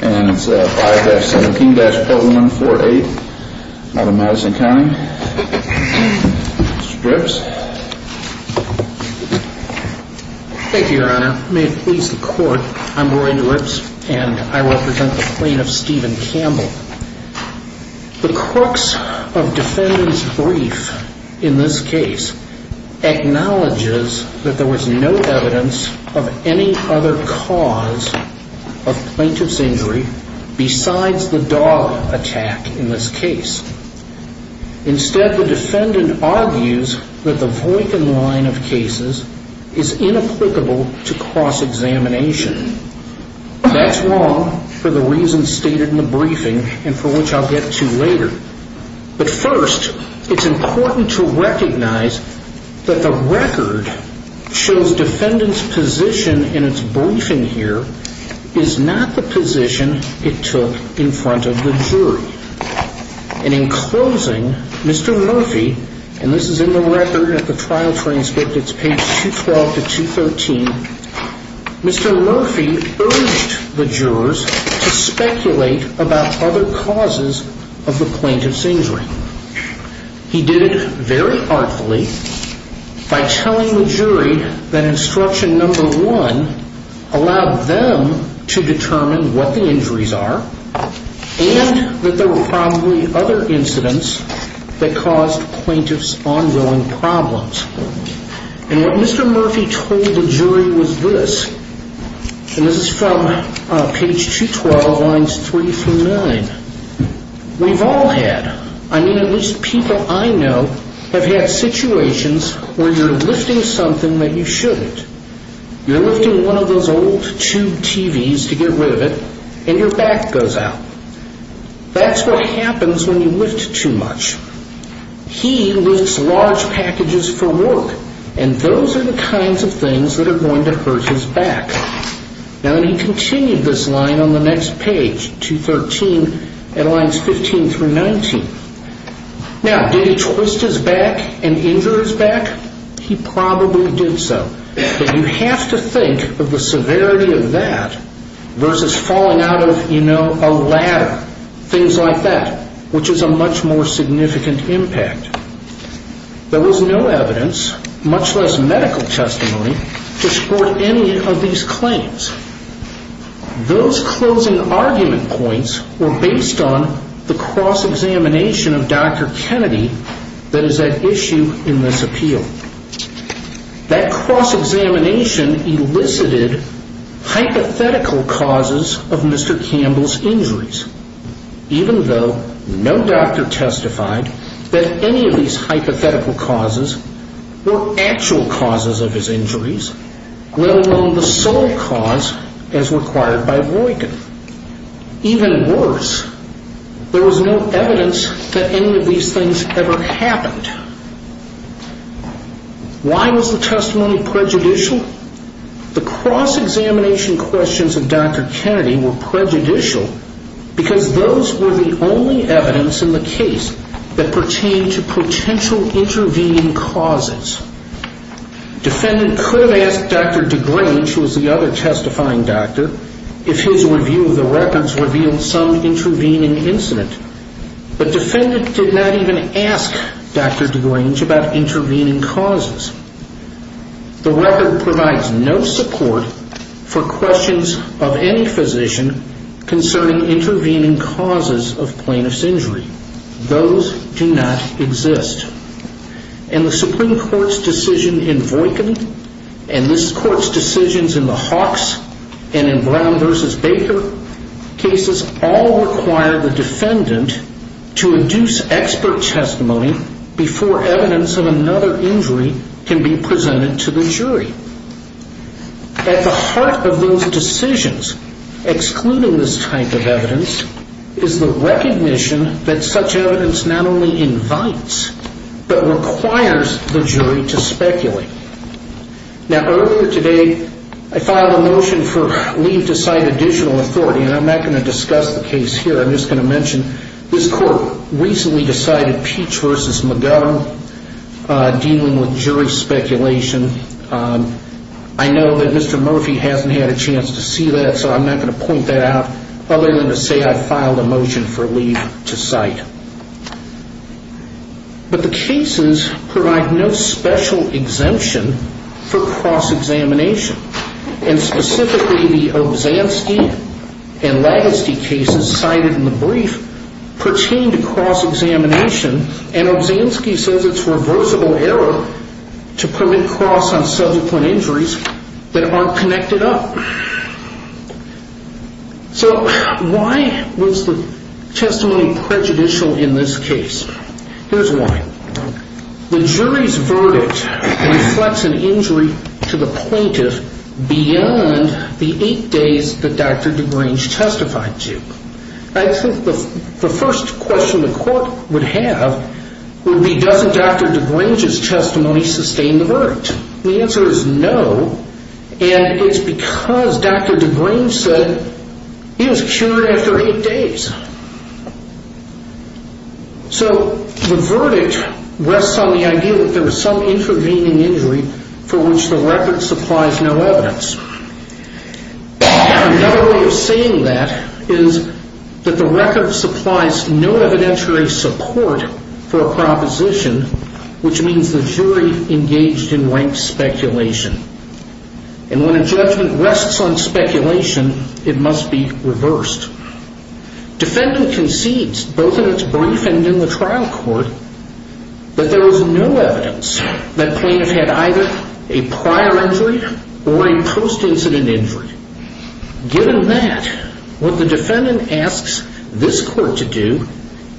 and it's 5-17-0148 out of Madison County. Mr. Drips. Thank you, your honor. May it please the court, I'm Rory Drips and I represent the plaintiff Stephen Campbell. The crux of defendant's brief in this case acknowledges that there was no evidence of any other cause of plaintiff's injury besides the dog attack in this case. Instead, the defendant argues that the Voight-Gin line of cases is inapplicable to cross-examination. That's wrong for the reasons stated in the briefing and for which I'll get to later. But first, it's important to recognize that the record shows defendant's position in its briefing here is not the position it took in front of the jury. And in closing, Mr. Murphy, and this is in the record at the trial transcript, it's page 212-213, Mr. Murphy urged the jurors to speculate about other causes of the plaintiff's injury. He did it very artfully by telling the jury that instruction number one allowed them to determine what the injuries are and that there were probably other incidents that caused plaintiff's ongoing problems. And what Mr. Murphy told the jury was this, and this is from page 212 lines three through nine. We've all had, I mean at least people I know, have had situations where you're lifting something that you shouldn't. You're lifting one of those old tube TVs to get rid of it and your back goes out. That's what happens when you lift too much. He lifts large packages for work, and those are the kinds of things that are going to hurt his back. Now, he continued this line on the next page, 213 at lines 15 through 19. Now, did he twist his back and injure his back? He probably did so, but you have to think of the severity of that versus falling out of, you know, a ladder, things like that, which is a much more significant impact. There was no evidence, much less medical testimony, to support any of these claims. Those closing argument points were based on the cross-examination of Dr. Kennedy that is at issue in this appeal. That cross-examination elicited hypothetical causes of Mr. Campbell's injuries, even though no doctor testified that any of these hypothetical causes were actual causes of his injuries, let alone the sole cause as required by Voykin. Even worse, there was no evidence that any of these things ever happened. Why was the testimony prejudicial? The cross-examination questions of Dr. Kennedy were prejudicial because those were the only evidence in the case that pertained to potential intervening causes. Defendant could have asked Dr. DeGrange, who was the other testifying doctor, if his review of the records revealed some intervening incident, but defendant did not even ask Dr. DeGrange about intervening causes. The record provides no support for questions of any physician concerning intervening causes of plaintiff's injury. Those do not exist. And the Supreme Court's decision in Voykin and this Court's decisions in the Hawks and in Brown v. Baker cases all require the defendant to induce expert testimony before evidence of another injury can be presented to the jury. At the heart of those decisions, excluding this type of evidence, is the recognition that such evidence not only invites but requires the jury to speculate. Now, earlier today, I filed a motion for leave to cite additional authority, and I'm not going to discuss the case here. I'm just going to mention this Court recently decided Peach v. McGovern dealing with jury speculation. I know that Mr. Murphy hasn't had a chance to see that, so I'm not going to point that out, other than to say I filed a motion for leave to cite. But the cases provide no special exemption for cross-examination, and specifically the Obzanski and Lagasty cases cited in the brief pertain to cross-examination, and Obzanski says it's reversible error to permit cross on subsequent injuries that aren't connected up. So why was the testimony prejudicial in this case? Here's why. The jury's verdict reflects an injury to the point of beyond the eight days that Dr. DeGrange testified to. I think the first question the Court would have would be, doesn't Dr. DeGrange's testimony sustain the verdict? The answer is no, and it's because Dr. DeGrange said he was cured after eight days. So the verdict rests on the idea that there was some intervening injury for which the record supplies no evidence. Another way of saying that is that the record supplies no evidentiary support for a proposition, which means the jury engaged in ranked speculation. And when a judgment rests on speculation, it must be reversed. Defendant concedes, both in its brief and in the trial court, that there was no evidence that plaintiff had either a prior injury or a post-incident injury. Given that, what the defendant asks this Court to do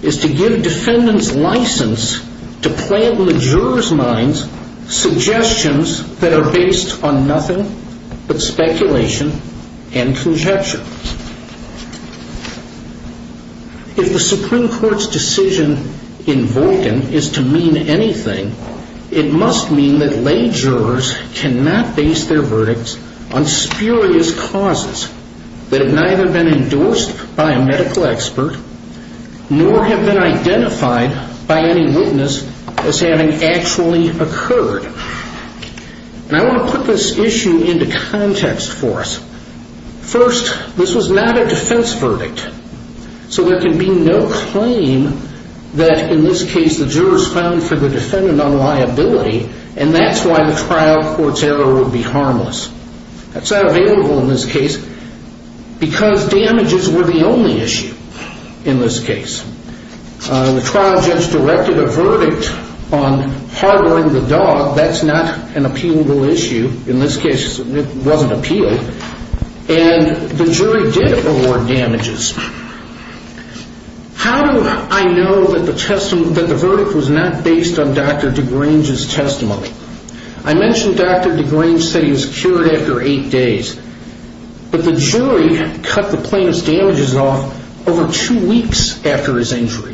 is to give defendants license to plant in the jurors' minds suggestions that are based on nothing but speculation and conjecture. If the Supreme Court's decision in Vulcan is to mean anything, it must mean that lay jurors cannot base their verdicts on spurious causes that have neither been endorsed by a medical expert nor have been identified by any witness as having actually occurred. And I want to put this issue into context for us. First, this was not a defense verdict, so there can be no claim that, in this case, the jurors found for the defendant unliability, and that's why the trial court's error would be harmless. That's not available in this case because damages were the only issue in this case. The trial judge directed a verdict on harboring the dog. That's not an appealable issue in this case. It wasn't appealed. And the jury did award damages. How do I know that the verdict was not based on Dr. DeGrange's testimony? I mentioned Dr. DeGrange said he was cured after eight days, but the jury cut the plaintiff's damages off over two weeks after his injury.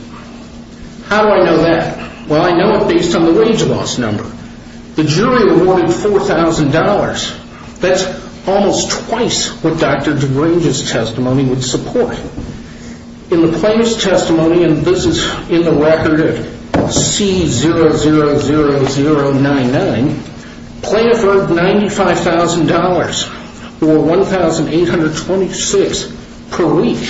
How do I know that? Well, I know it based on the wage loss number. The jury awarded $4,000. That's almost twice what Dr. DeGrange's testimony would support. In the plaintiff's testimony, and this is in the record of C00099, the plaintiff earned $95,000, or $1,826 per week,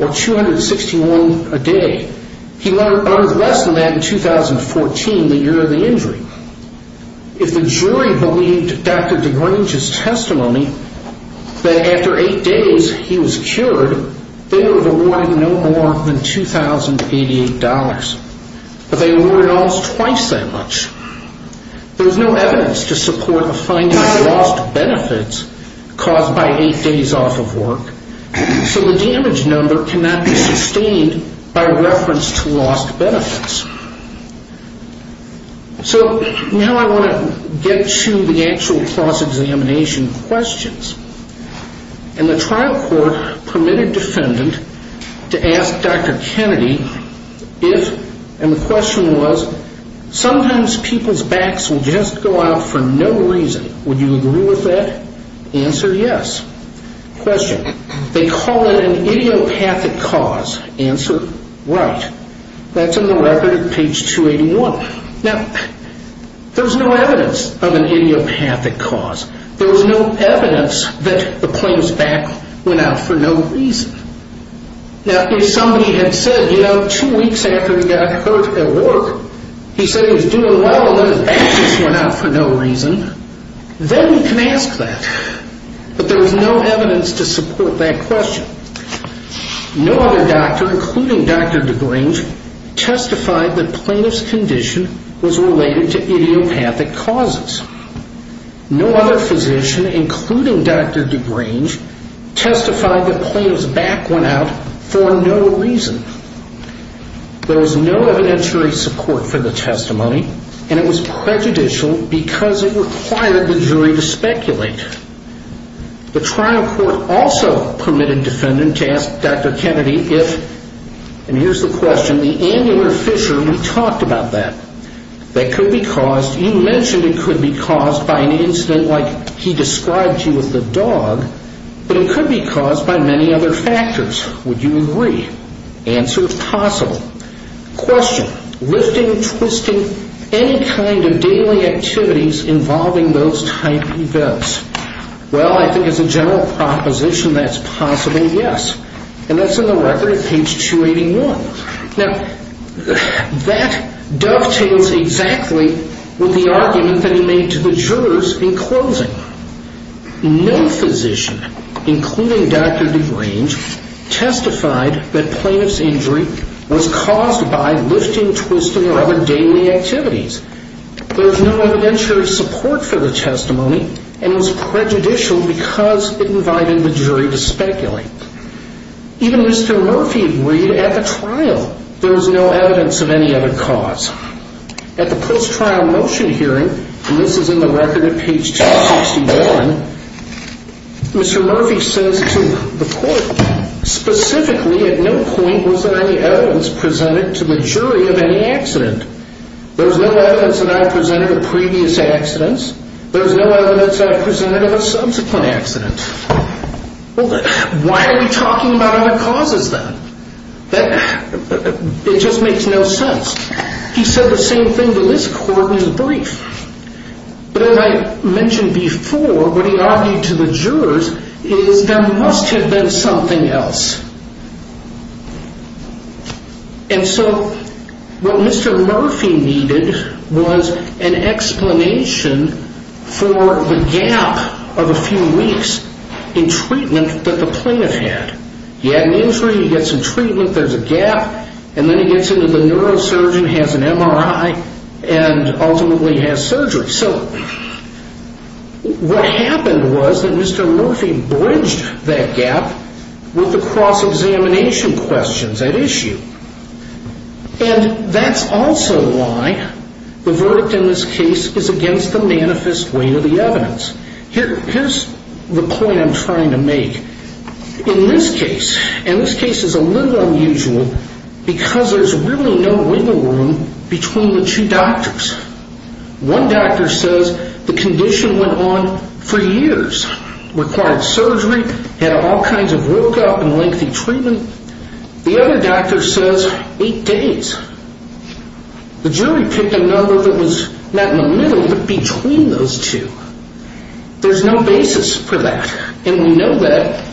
or $261 a day. He earned less than that in 2014, the year of the injury. If the jury believed Dr. DeGrange's testimony that after eight days he was cured, they would have awarded no more than $2,088, but they awarded almost twice that much. There's no evidence to support the finding of lost benefits caused by eight days off of work, so the damage number cannot be sustained by reference to lost benefits. So now I want to get to the actual cross-examination questions. In the trial court, permitted defendant to ask Dr. Kennedy if, and the question was, sometimes people's backs will just go out for no reason. Would you agree with that? Answer, yes. Question, they call it an idiopathic cause. Answer, right. That's in the record at page 281. Now, there's no evidence of an idiopathic cause. There's no evidence that the plaintiff's back went out for no reason. Now, if somebody had said, you know, two weeks after he got hurt at work, he said he was doing well and then his back just went out for no reason, then we can ask that, but there's no evidence to support that question. No other doctor, including Dr. DeGrange, testified that plaintiff's condition was related to idiopathic causes. No other physician, including Dr. DeGrange, testified that plaintiff's back went out for no reason. There was no evidentiary support for the testimony, and it was prejudicial because it required the jury to speculate. The trial court also permitted defendant to ask Dr. Kennedy if, and here's the question, the angular fissure, we talked about that, that could be caused, you mentioned it could be caused by an incident like he described to you with the dog, but it could be caused by many other factors. Would you agree? Answer, possible. Question, lifting, twisting, any kind of daily activities involving those type events. Well, I think as a general proposition that's possible, yes, and that's in the record at page 281. Now, that dovetails exactly with the argument that he made to the jurors in closing. No physician, including Dr. DeGrange, There was no evidentiary support for the testimony, and it was prejudicial because it invited the jury to speculate. Even Mr. Murphy agreed at the trial. There was no evidence of any other cause. At the post-trial motion hearing, and this is in the record at page 261, Mr. Murphy says to the court, Specifically, at no point was there any evidence presented to the jury of any accident. There's no evidence that I've presented of previous accidents. There's no evidence I've presented of a subsequent accident. Why are we talking about other causes then? It just makes no sense. He said the same thing to this court in the brief. But as I mentioned before, what he argued to the jurors is there must have been something else. And so what Mr. Murphy needed was an explanation for the gap of a few weeks in treatment that the plaintiff had. He had an injury, he gets some treatment, there's a gap, and then he gets into the neurosurgeon, has an MRI, and ultimately has surgery. So what happened was that Mr. Murphy bridged that gap with the cross-examination questions at issue. And that's also why the verdict in this case is against the manifest weight of the evidence. Here's the point I'm trying to make. In this case, and this case is a little unusual, because there's really no wiggle room between the two doctors. One doctor says the condition went on for years, required surgery, had all kinds of workup and lengthy treatment. The other doctor says eight days. The jury picked a number that was not in the middle but between those two. There's no basis for that. And we know that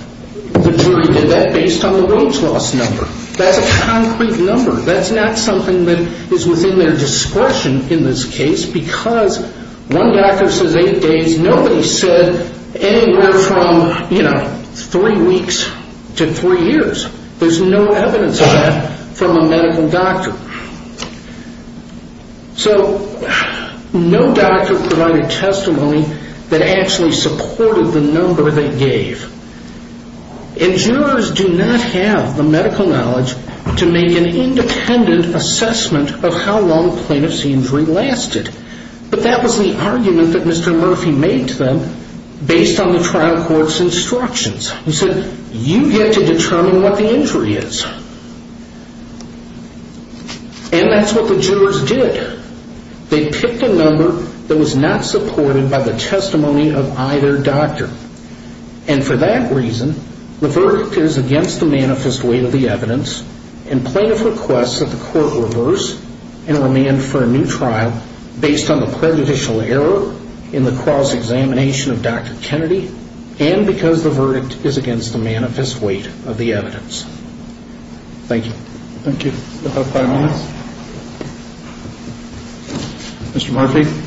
the jury did that based on the weight loss number. That's a concrete number. That's not something that is within their discretion in this case because one doctor says eight days. Nobody said anywhere from, you know, three weeks to three years. There's no evidence of that from a medical doctor. So no doctor provided testimony that actually supported the number they gave. And jurors do not have the medical knowledge to make an independent assessment of how long plaintiff's injury lasted. But that was the argument that Mr. Murphy made to them based on the trial court's instructions. He said, you get to determine what the injury is. And that's what the jurors did. They picked a number that was not supported by the testimony of either doctor. And for that reason, the verdict is against the manifest weight of the evidence and plaintiff requests that the court reverse and remand for a new trial based on the prejudicial error in the cross-examination of Dr. Kennedy and because the verdict is against the manifest weight of the evidence. Thank you. Thank you. We'll have five minutes. Mr. Murphy.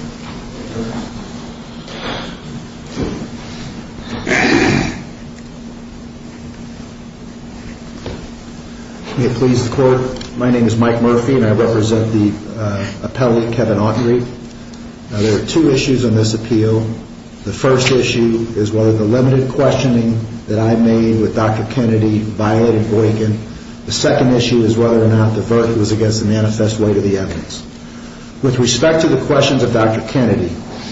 May it please the court, my name is Mike Murphy and I represent the appellate Kevin Autry. Now there are two issues in this appeal. The first issue is whether the limited questioning that I made with Dr. Kennedy violated Boykin. The second issue is whether or not the verdict was against the manifest weight of the evidence. With respect to the questions of Dr. Kennedy,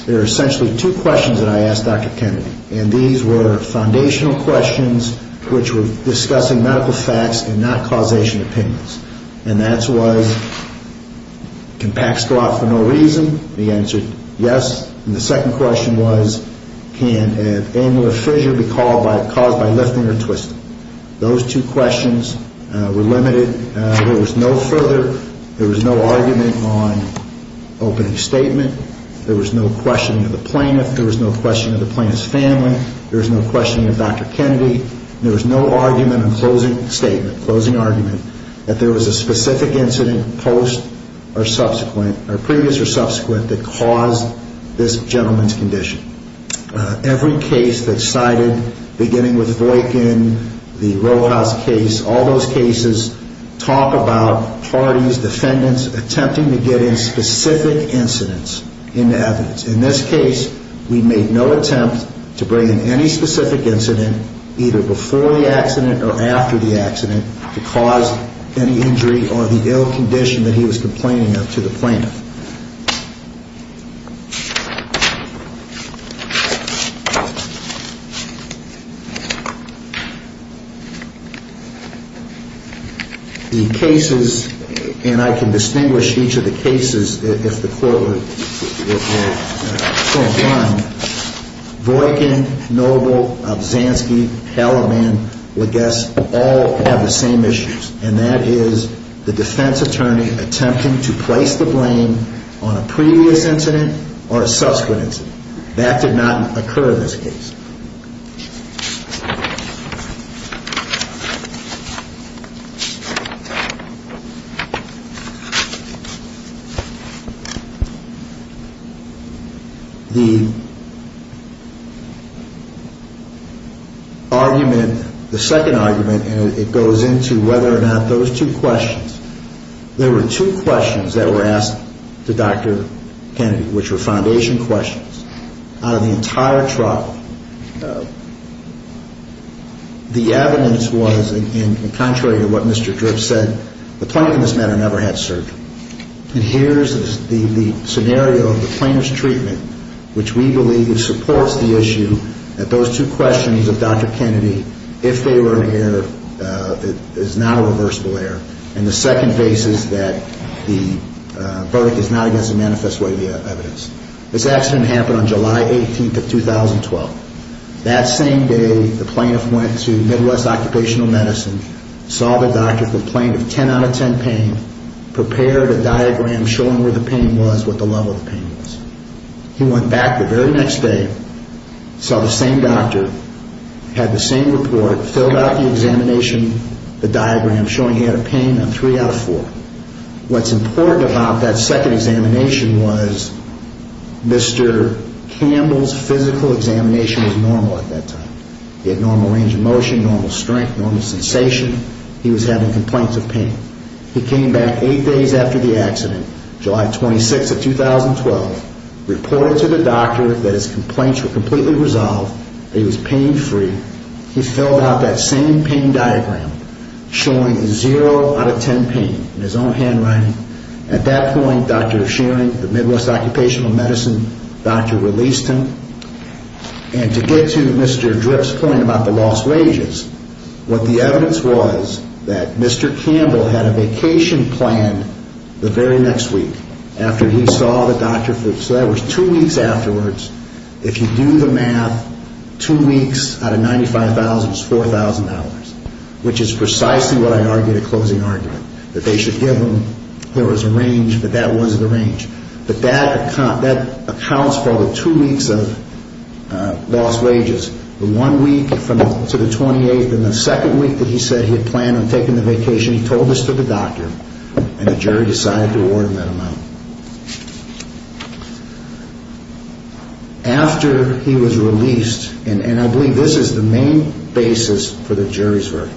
there are essentially two questions that I asked Dr. Kennedy. And these were foundational questions which were discussing medical facts and not causation opinions. And the answer was, can PACS go out for no reason? The answer, yes. And the second question was, can an annular fissure be caused by lifting or twisting? Those two questions were limited. There was no further, there was no argument on opening statement. There was no questioning of the plaintiff. There was no questioning of the plaintiff's family. There was no questioning of Dr. Kennedy. There was no argument on closing statement, closing argument, that there was a specific incident post or subsequent, or previous or subsequent, that caused this gentleman's condition. Every case that's cited, beginning with Boykin, the Rojas case, all those cases, talk about parties, defendants attempting to get in specific incidents into evidence. In this case, we made no attempt to bring in any specific incident, either before the accident or after the accident, to cause any injury or the ill condition that he was complaining of to the plaintiff. The cases, and I can distinguish each of the cases, if the court would, would point one, Boykin, Noble, Obzanski, Hellermann, Lagesse, all have the same issues, and that is the defense attorney attempting to place the blame on a previous incident or a subsequent incident. That did not occur in this case. The argument, the second argument, and it goes into whether or not those two questions, There were two questions that were asked to Dr. Kennedy, which were foundation questions. Out of the entire trial, the evidence was, and contrary to what Mr. Drips said, the plaintiff in this matter never had surgery. And here's the scenario of the plaintiff's treatment, which we believe supports the issue that those two questions of Dr. Kennedy, if they were in error, is now a reversible error, and the second case is that the verdict is not against the manifest way of the evidence. This accident happened on July 18th of 2012. That same day, the plaintiff went to Midwest Occupational Medicine, saw the doctor, complained of 10 out of 10 pain, prepared a diagram showing where the pain was, what the level of the pain was. He went back the very next day, saw the same doctor, had the same report, filled out the examination, the diagram showing he had a pain of 3 out of 4. What's important about that second examination was Mr. Campbell's physical examination was normal at that time. He had normal range of motion, normal strength, normal sensation. He was having complaints of pain. He came back 8 days after the accident, July 26th of 2012, reported to the doctor that his complaints were completely resolved, that he was pain-free. He filled out that same pain diagram showing 0 out of 10 pain in his own handwriting. At that point, Dr. O'Shearing, the Midwest Occupational Medicine doctor, released him. And to get to Mr. Drip's point about the lost wages, what the evidence was that Mr. Campbell had a vacation planned the very next week after he saw the doctor. So that was two weeks afterwards. If you do the math, two weeks out of 95,000 is $4,000, which is precisely what I argued at closing argument, that they should give him, there was a range, but that wasn't the range. But that accounts for the two weeks of lost wages. The one week to the 28th, and the second week that he said he had planned on taking the vacation, he told this to the doctor, and the jury decided to award him that amount. After he was released, and I believe this is the main basis for the jury's verdict,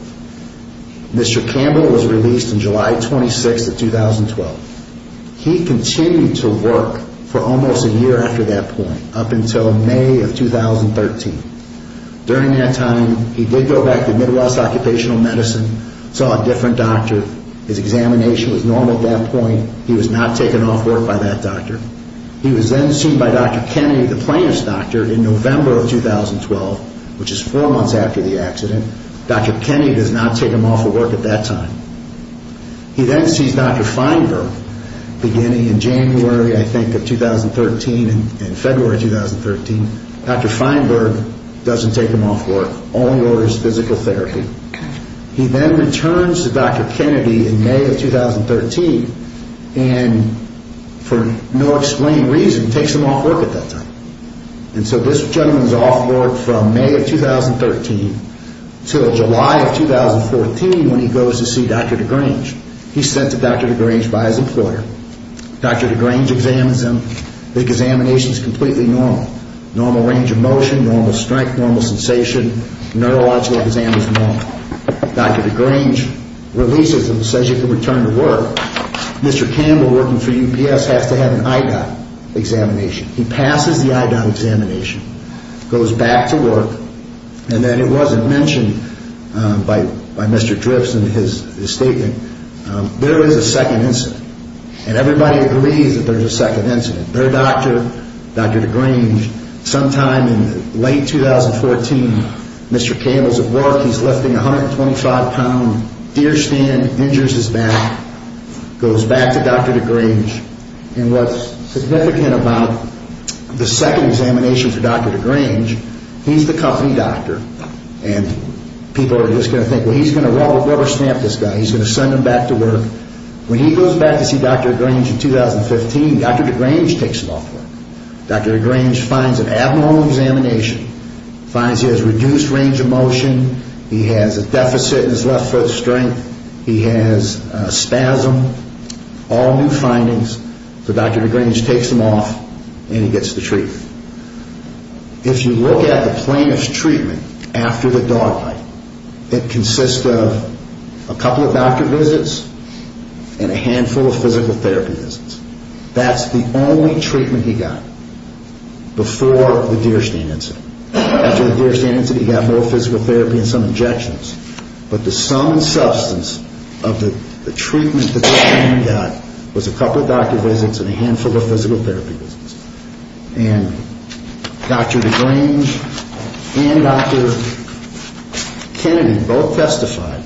Mr. Campbell was released on July 26th of 2012. He continued to work for almost a year after that point, up until May of 2013. During that time, he did go back to Midwest Occupational Medicine, saw a different doctor. His examination was normal at that point. He was not taken off work by that doctor. He was then seen by Dr. Kennedy, the plaintiff's doctor, in November of 2012, which is four months after the accident. Dr. Kennedy does not take him off of work at that time. He then sees Dr. Feinberg, beginning in January, I think, of 2013, and February of 2013. Dr. Feinberg doesn't take him off work, only orders physical therapy. He then returns to Dr. Kennedy in May of 2013, and for no explained reason, takes him off work at that time. And so this gentleman is off work from May of 2013 until July of 2014 when he goes to see Dr. DeGrange. He's sent to Dr. DeGrange by his employer. Dr. DeGrange examines him. The examination is completely normal. Normal range of motion, normal strength, normal sensation. Neurological exam is normal. Dr. DeGrange releases him and says you can return to work. Mr. Campbell, working for UPS, has to have an EIDA examination. He passes the EIDA examination, goes back to work. And then it wasn't mentioned by Mr. Dripps in his statement, there is a second incident. And everybody agrees that there's a second incident. Their doctor, Dr. DeGrange, sometime in late 2014, Mr. Campbell's at work. He's lifting 125 pounds, deer stand, injures his back, goes back to Dr. DeGrange. And what's significant about the second examination for Dr. DeGrange, he's the company doctor. And people are just going to think, well, he's going to rubber stamp this guy. He's going to send him back to work. When he goes back to see Dr. DeGrange in 2015, Dr. DeGrange takes him off work. Dr. DeGrange finds an abnormal examination, finds he has reduced range of motion. He has a deficit in his left foot strength. He has a spasm, all new findings. So Dr. DeGrange takes him off and he gets the treatment. If you look at the plaintiff's treatment after the dog bite, it consists of a couple of doctor visits and a handful of physical therapy visits. That's the only treatment he got before the deer stand incident. After the deer stand incident, he got more physical therapy and some injections. But the sum and substance of the treatment that he got was a couple of doctor visits and a handful of physical therapy visits. And Dr. DeGrange and Dr. Kennedy both testified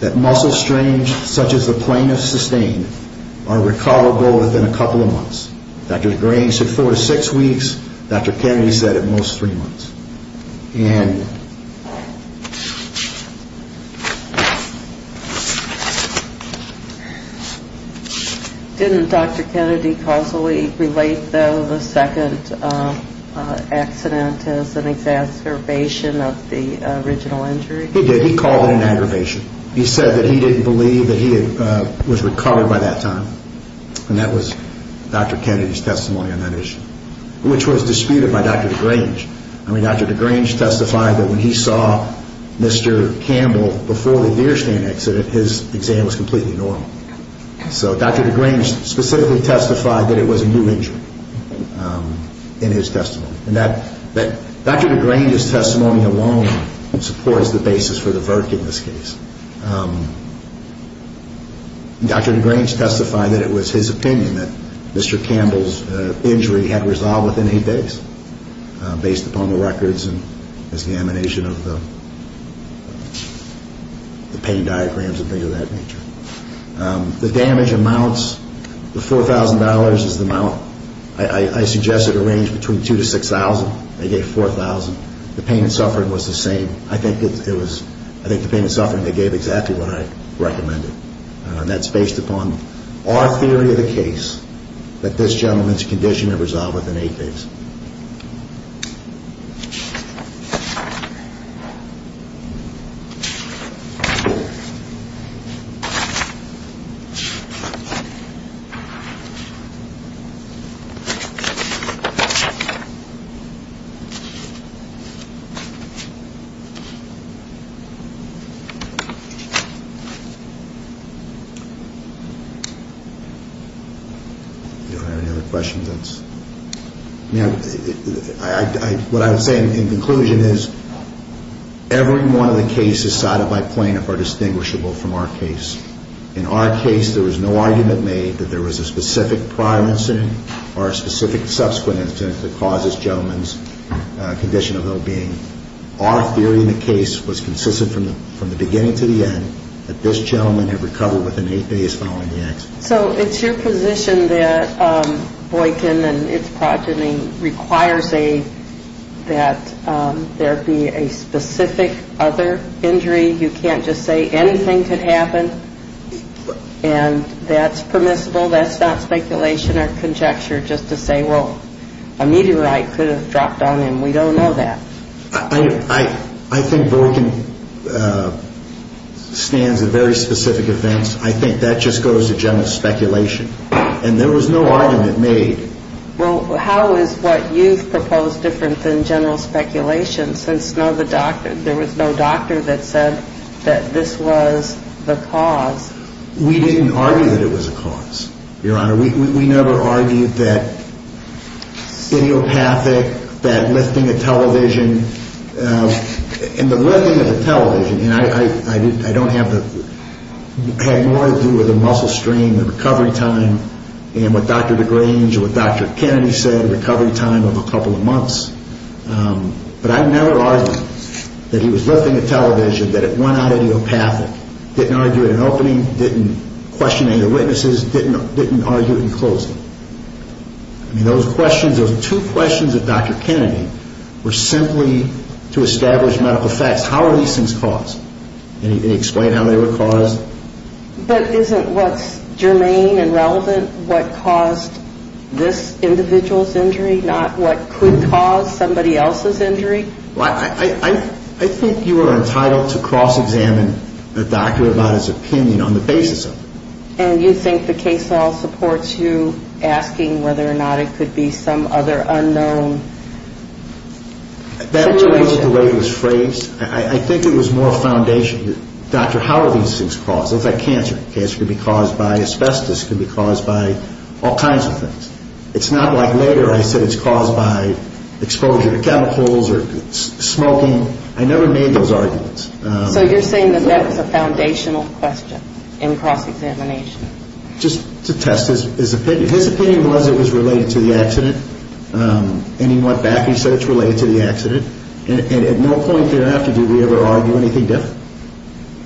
that muscle strains such as the plaintiff sustained are recallable within a couple of months. Dr. DeGrange said four to six weeks. Dr. Kennedy said at most three months. And... Didn't Dr. Kennedy causally relate, though, the second accident as an exacerbation of the original injury? He did. He called it an aggravation. He said that he didn't believe that he was recovered by that time. And that was Dr. Kennedy's testimony on that issue, which was disputed by Dr. DeGrange. I mean, Dr. DeGrange testified that when he saw Mr. Campbell before the deer stand accident, his exam was completely normal. So Dr. DeGrange specifically testified that it was a new injury in his testimony. And Dr. DeGrange's testimony alone supports the basis for the verdict in this case. Dr. DeGrange testified that it was his opinion that Mr. Campbell's injury had resolved within eight days based upon the records and examination of the pain diagrams and things of that nature. The damage amounts, the $4,000 is the amount. I suggested a range between $2,000 to $6,000. They gave $4,000. The pain and suffering was the same. I think the pain and suffering, they gave exactly what I recommended. And that's based upon our theory of the case that this gentleman's condition had resolved within eight days. Thank you. Thank you. Do you have any other questions? What I would say in conclusion is every one of the cases cited by plaintiff are distinguishable from our case. In our case, there was no argument made that there was a specific prior incident or a specific subsequent incident that causes this gentleman's condition of well-being. Our theory in the case was consistent from the beginning to the end that this gentleman had recovered within eight days following the accident. So it's your position that Boykin and its progeny requires that there be a specific other injury. You can't just say anything could happen, and that's permissible. That's not speculation or conjecture just to say, well, a meteorite could have dropped on him. We don't know that. I think Boykin stands at very specific events. I think that just goes to general speculation. And there was no argument made. Well, how is what you've proposed different than general speculation since there was no doctor that said that this was the cause? We didn't argue that it was a cause, Your Honor. We never argued that idiopathic, that lifting a television. And the lifting of the television, and I don't have more to do with the muscle strain, the recovery time, and what Dr. DeGrange or what Dr. Kennedy said, recovery time of a couple of months. But I never argued that he was lifting a television, that it went on idiopathic, didn't argue at an opening, didn't question any witnesses, didn't argue in closing. I mean, those questions, those two questions of Dr. Kennedy were simply to establish medical facts. How are these things caused? Can you explain how they were caused? But isn't what's germane and relevant what caused this individual's injury, not what could cause somebody else's injury? Well, I think you are entitled to cross-examine the doctor about his opinion on the basis of it. And you think the case law supports you asking whether or not it could be some other unknown? That was the way it was phrased. I think it was more foundation. Dr., how are these things caused? It's like cancer. Cancer can be caused by asbestos, can be caused by all kinds of things. It's not like later I said it's caused by exposure to chemicals or smoking. I never made those arguments. So you're saying that that was a foundational question in cross-examination? Just to test. His opinion was it was related to the accident. And he went back and said it's related to the accident. And at no point thereafter did we ever argue anything different.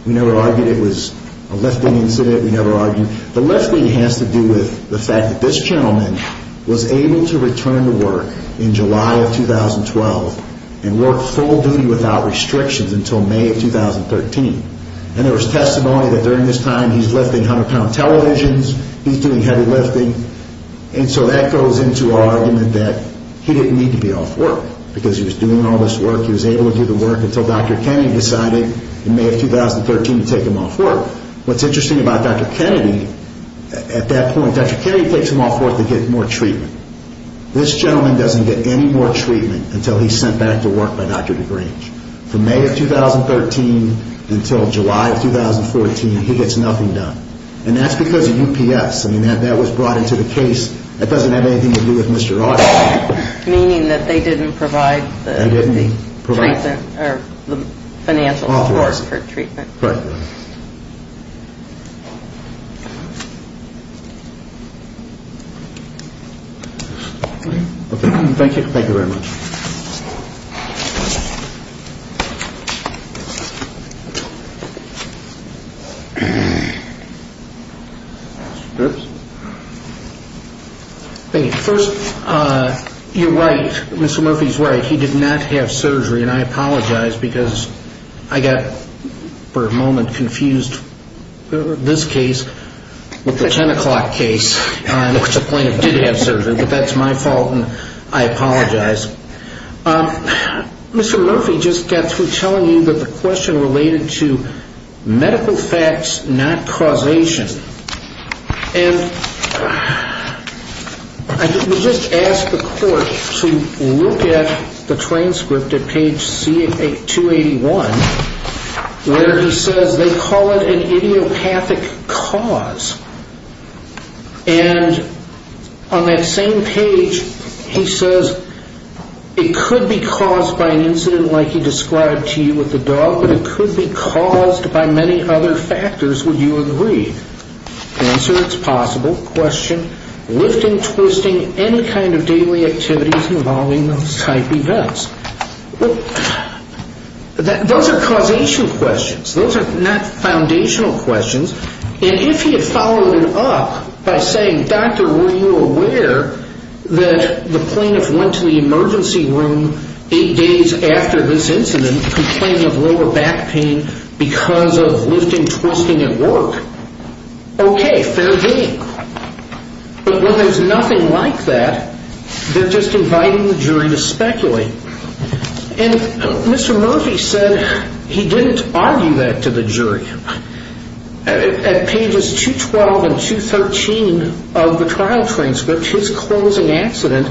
We never argued it was a lifting incident. We never argued. The lifting has to do with the fact that this gentleman was able to return to work in July of 2012 and work full duty without restrictions until May of 2013. And there was testimony that during this time he's lifting 100-pound televisions. He's doing heavy lifting. And so that goes into our argument that he didn't need to be off work because he was doing all this work. He was able to do the work until Dr. Kennedy decided in May of 2013 to take him off work. What's interesting about Dr. Kennedy at that point, Dr. Kennedy takes him off work to get more treatment. This gentleman doesn't get any more treatment until he's sent back to work by Dr. DeGrange. From May of 2013 until July of 2014, he gets nothing done. And that's because of UPS. I mean, that was brought into the case. That doesn't have anything to do with Mr. Arthur. Meaning that they didn't provide the financial support for treatment. Correct. Thank you. Thank you very much. First, you're right. Mr. Murphy's right. He did not have surgery. And I apologize because I got for a moment confused with this case with the 10 o'clock case. The plaintiff did have surgery, but that's my fault and I apologize. Mr. Murphy just got through telling you that the question related to medical facts, not causation. And we just asked the court to look at the transcript at page 281 where he says, they call it an idiopathic cause. And on that same page, he says, it could be caused by an incident like he described to you with the dog, but it could be caused by many other factors, would you agree? Answer, it's possible. Question, lifting, twisting, any kind of daily activities involving those type events. Those are causation questions. Those are not foundational questions. And if he had followed it up by saying, doctor, were you aware that the plaintiff went to the emergency room eight days after this incident and he's complaining of lower back pain because of lifting, twisting at work, okay, fair game. But when there's nothing like that, they're just inviting the jury to speculate. And Mr. Murphy said he didn't argue that to the jury. At pages 212 and 213 of the trial transcript, his closing accident,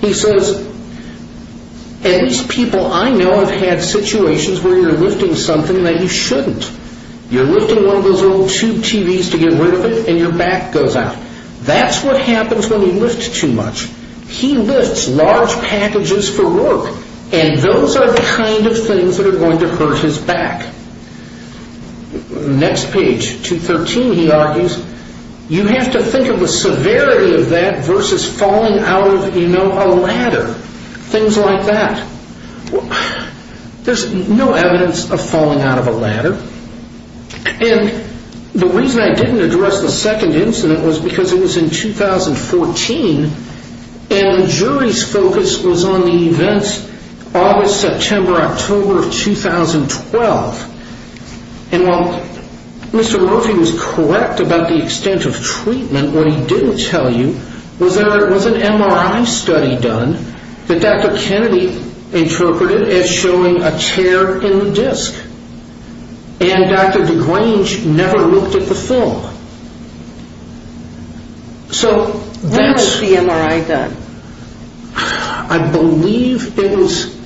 he says, at least people I know have had situations where you're lifting something that you shouldn't. You're lifting one of those old tube TVs to get rid of it and your back goes out. That's what happens when you lift too much. He lifts large packages for work, and those are the kind of things that are going to hurt his back. Next page, 213, he argues, you have to think of the severity of that versus falling out of, you know, a ladder, things like that. There's no evidence of falling out of a ladder. And the reason I didn't address the second incident was because it was in 2014, and the jury's focus was on the events August, September, October of 2012. And while Mr. Murphy was correct about the extent of treatment, what he didn't tell you was that there was an MRI study done that Dr. Kennedy interpreted as showing a tear in the disc, and Dr. DeGrange never looked at the film. So that's... When was the MRI done? I believe it was...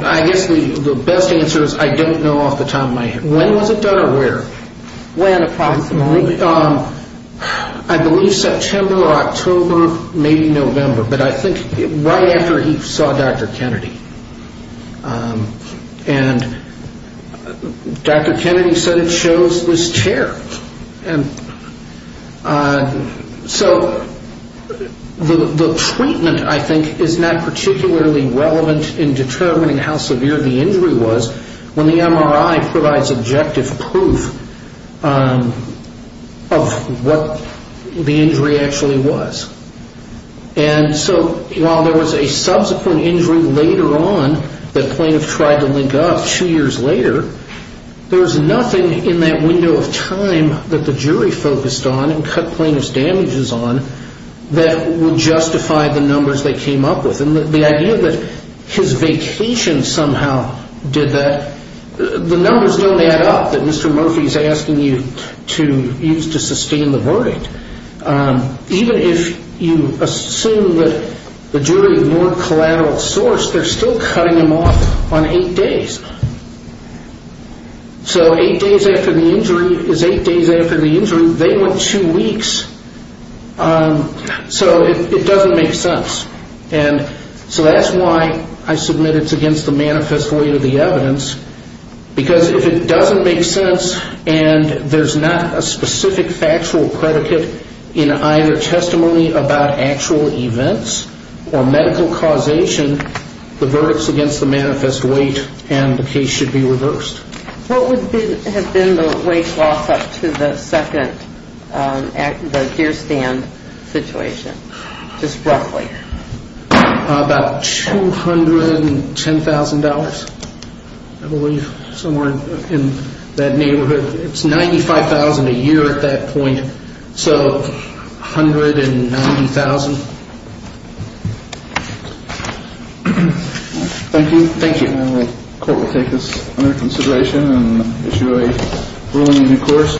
I guess the best answer is I don't know off the top of my head. When was it done or where? When approximately? I believe September or October, maybe November. But I think right after he saw Dr. Kennedy. And Dr. Kennedy said it shows this tear. And so the treatment, I think, is not particularly relevant in determining how severe the injury was when the MRI provides objective proof of what the injury actually was. And so while there was a subsequent injury later on that plaintiffs tried to link up two years later, there was nothing in that window of time that the jury focused on and cut plaintiff's damages on that would justify the numbers they came up with. And the idea that his vacation somehow did that, the numbers don't add up that Mr. Murphy is asking you to use to sustain the verdict. Even if you assume that the jury more collateral source, they're still cutting him off on eight days. So eight days after the injury is eight days after the injury. They went two weeks. So it doesn't make sense. So that's why I submit it's against the manifest way of the evidence, because if it doesn't make sense and there's not a specific factual predicate in either testimony about actual events or medical causation, the verdict's against the manifest weight and the case should be reversed. What would have been the weight loss up to the second deer stand situation? Just roughly. About $210,000, I believe, somewhere in that neighborhood. It's $95,000 a year at that point. So $190,000. Thank you. Thank you. The court will take this under consideration and issue a ruling in due course.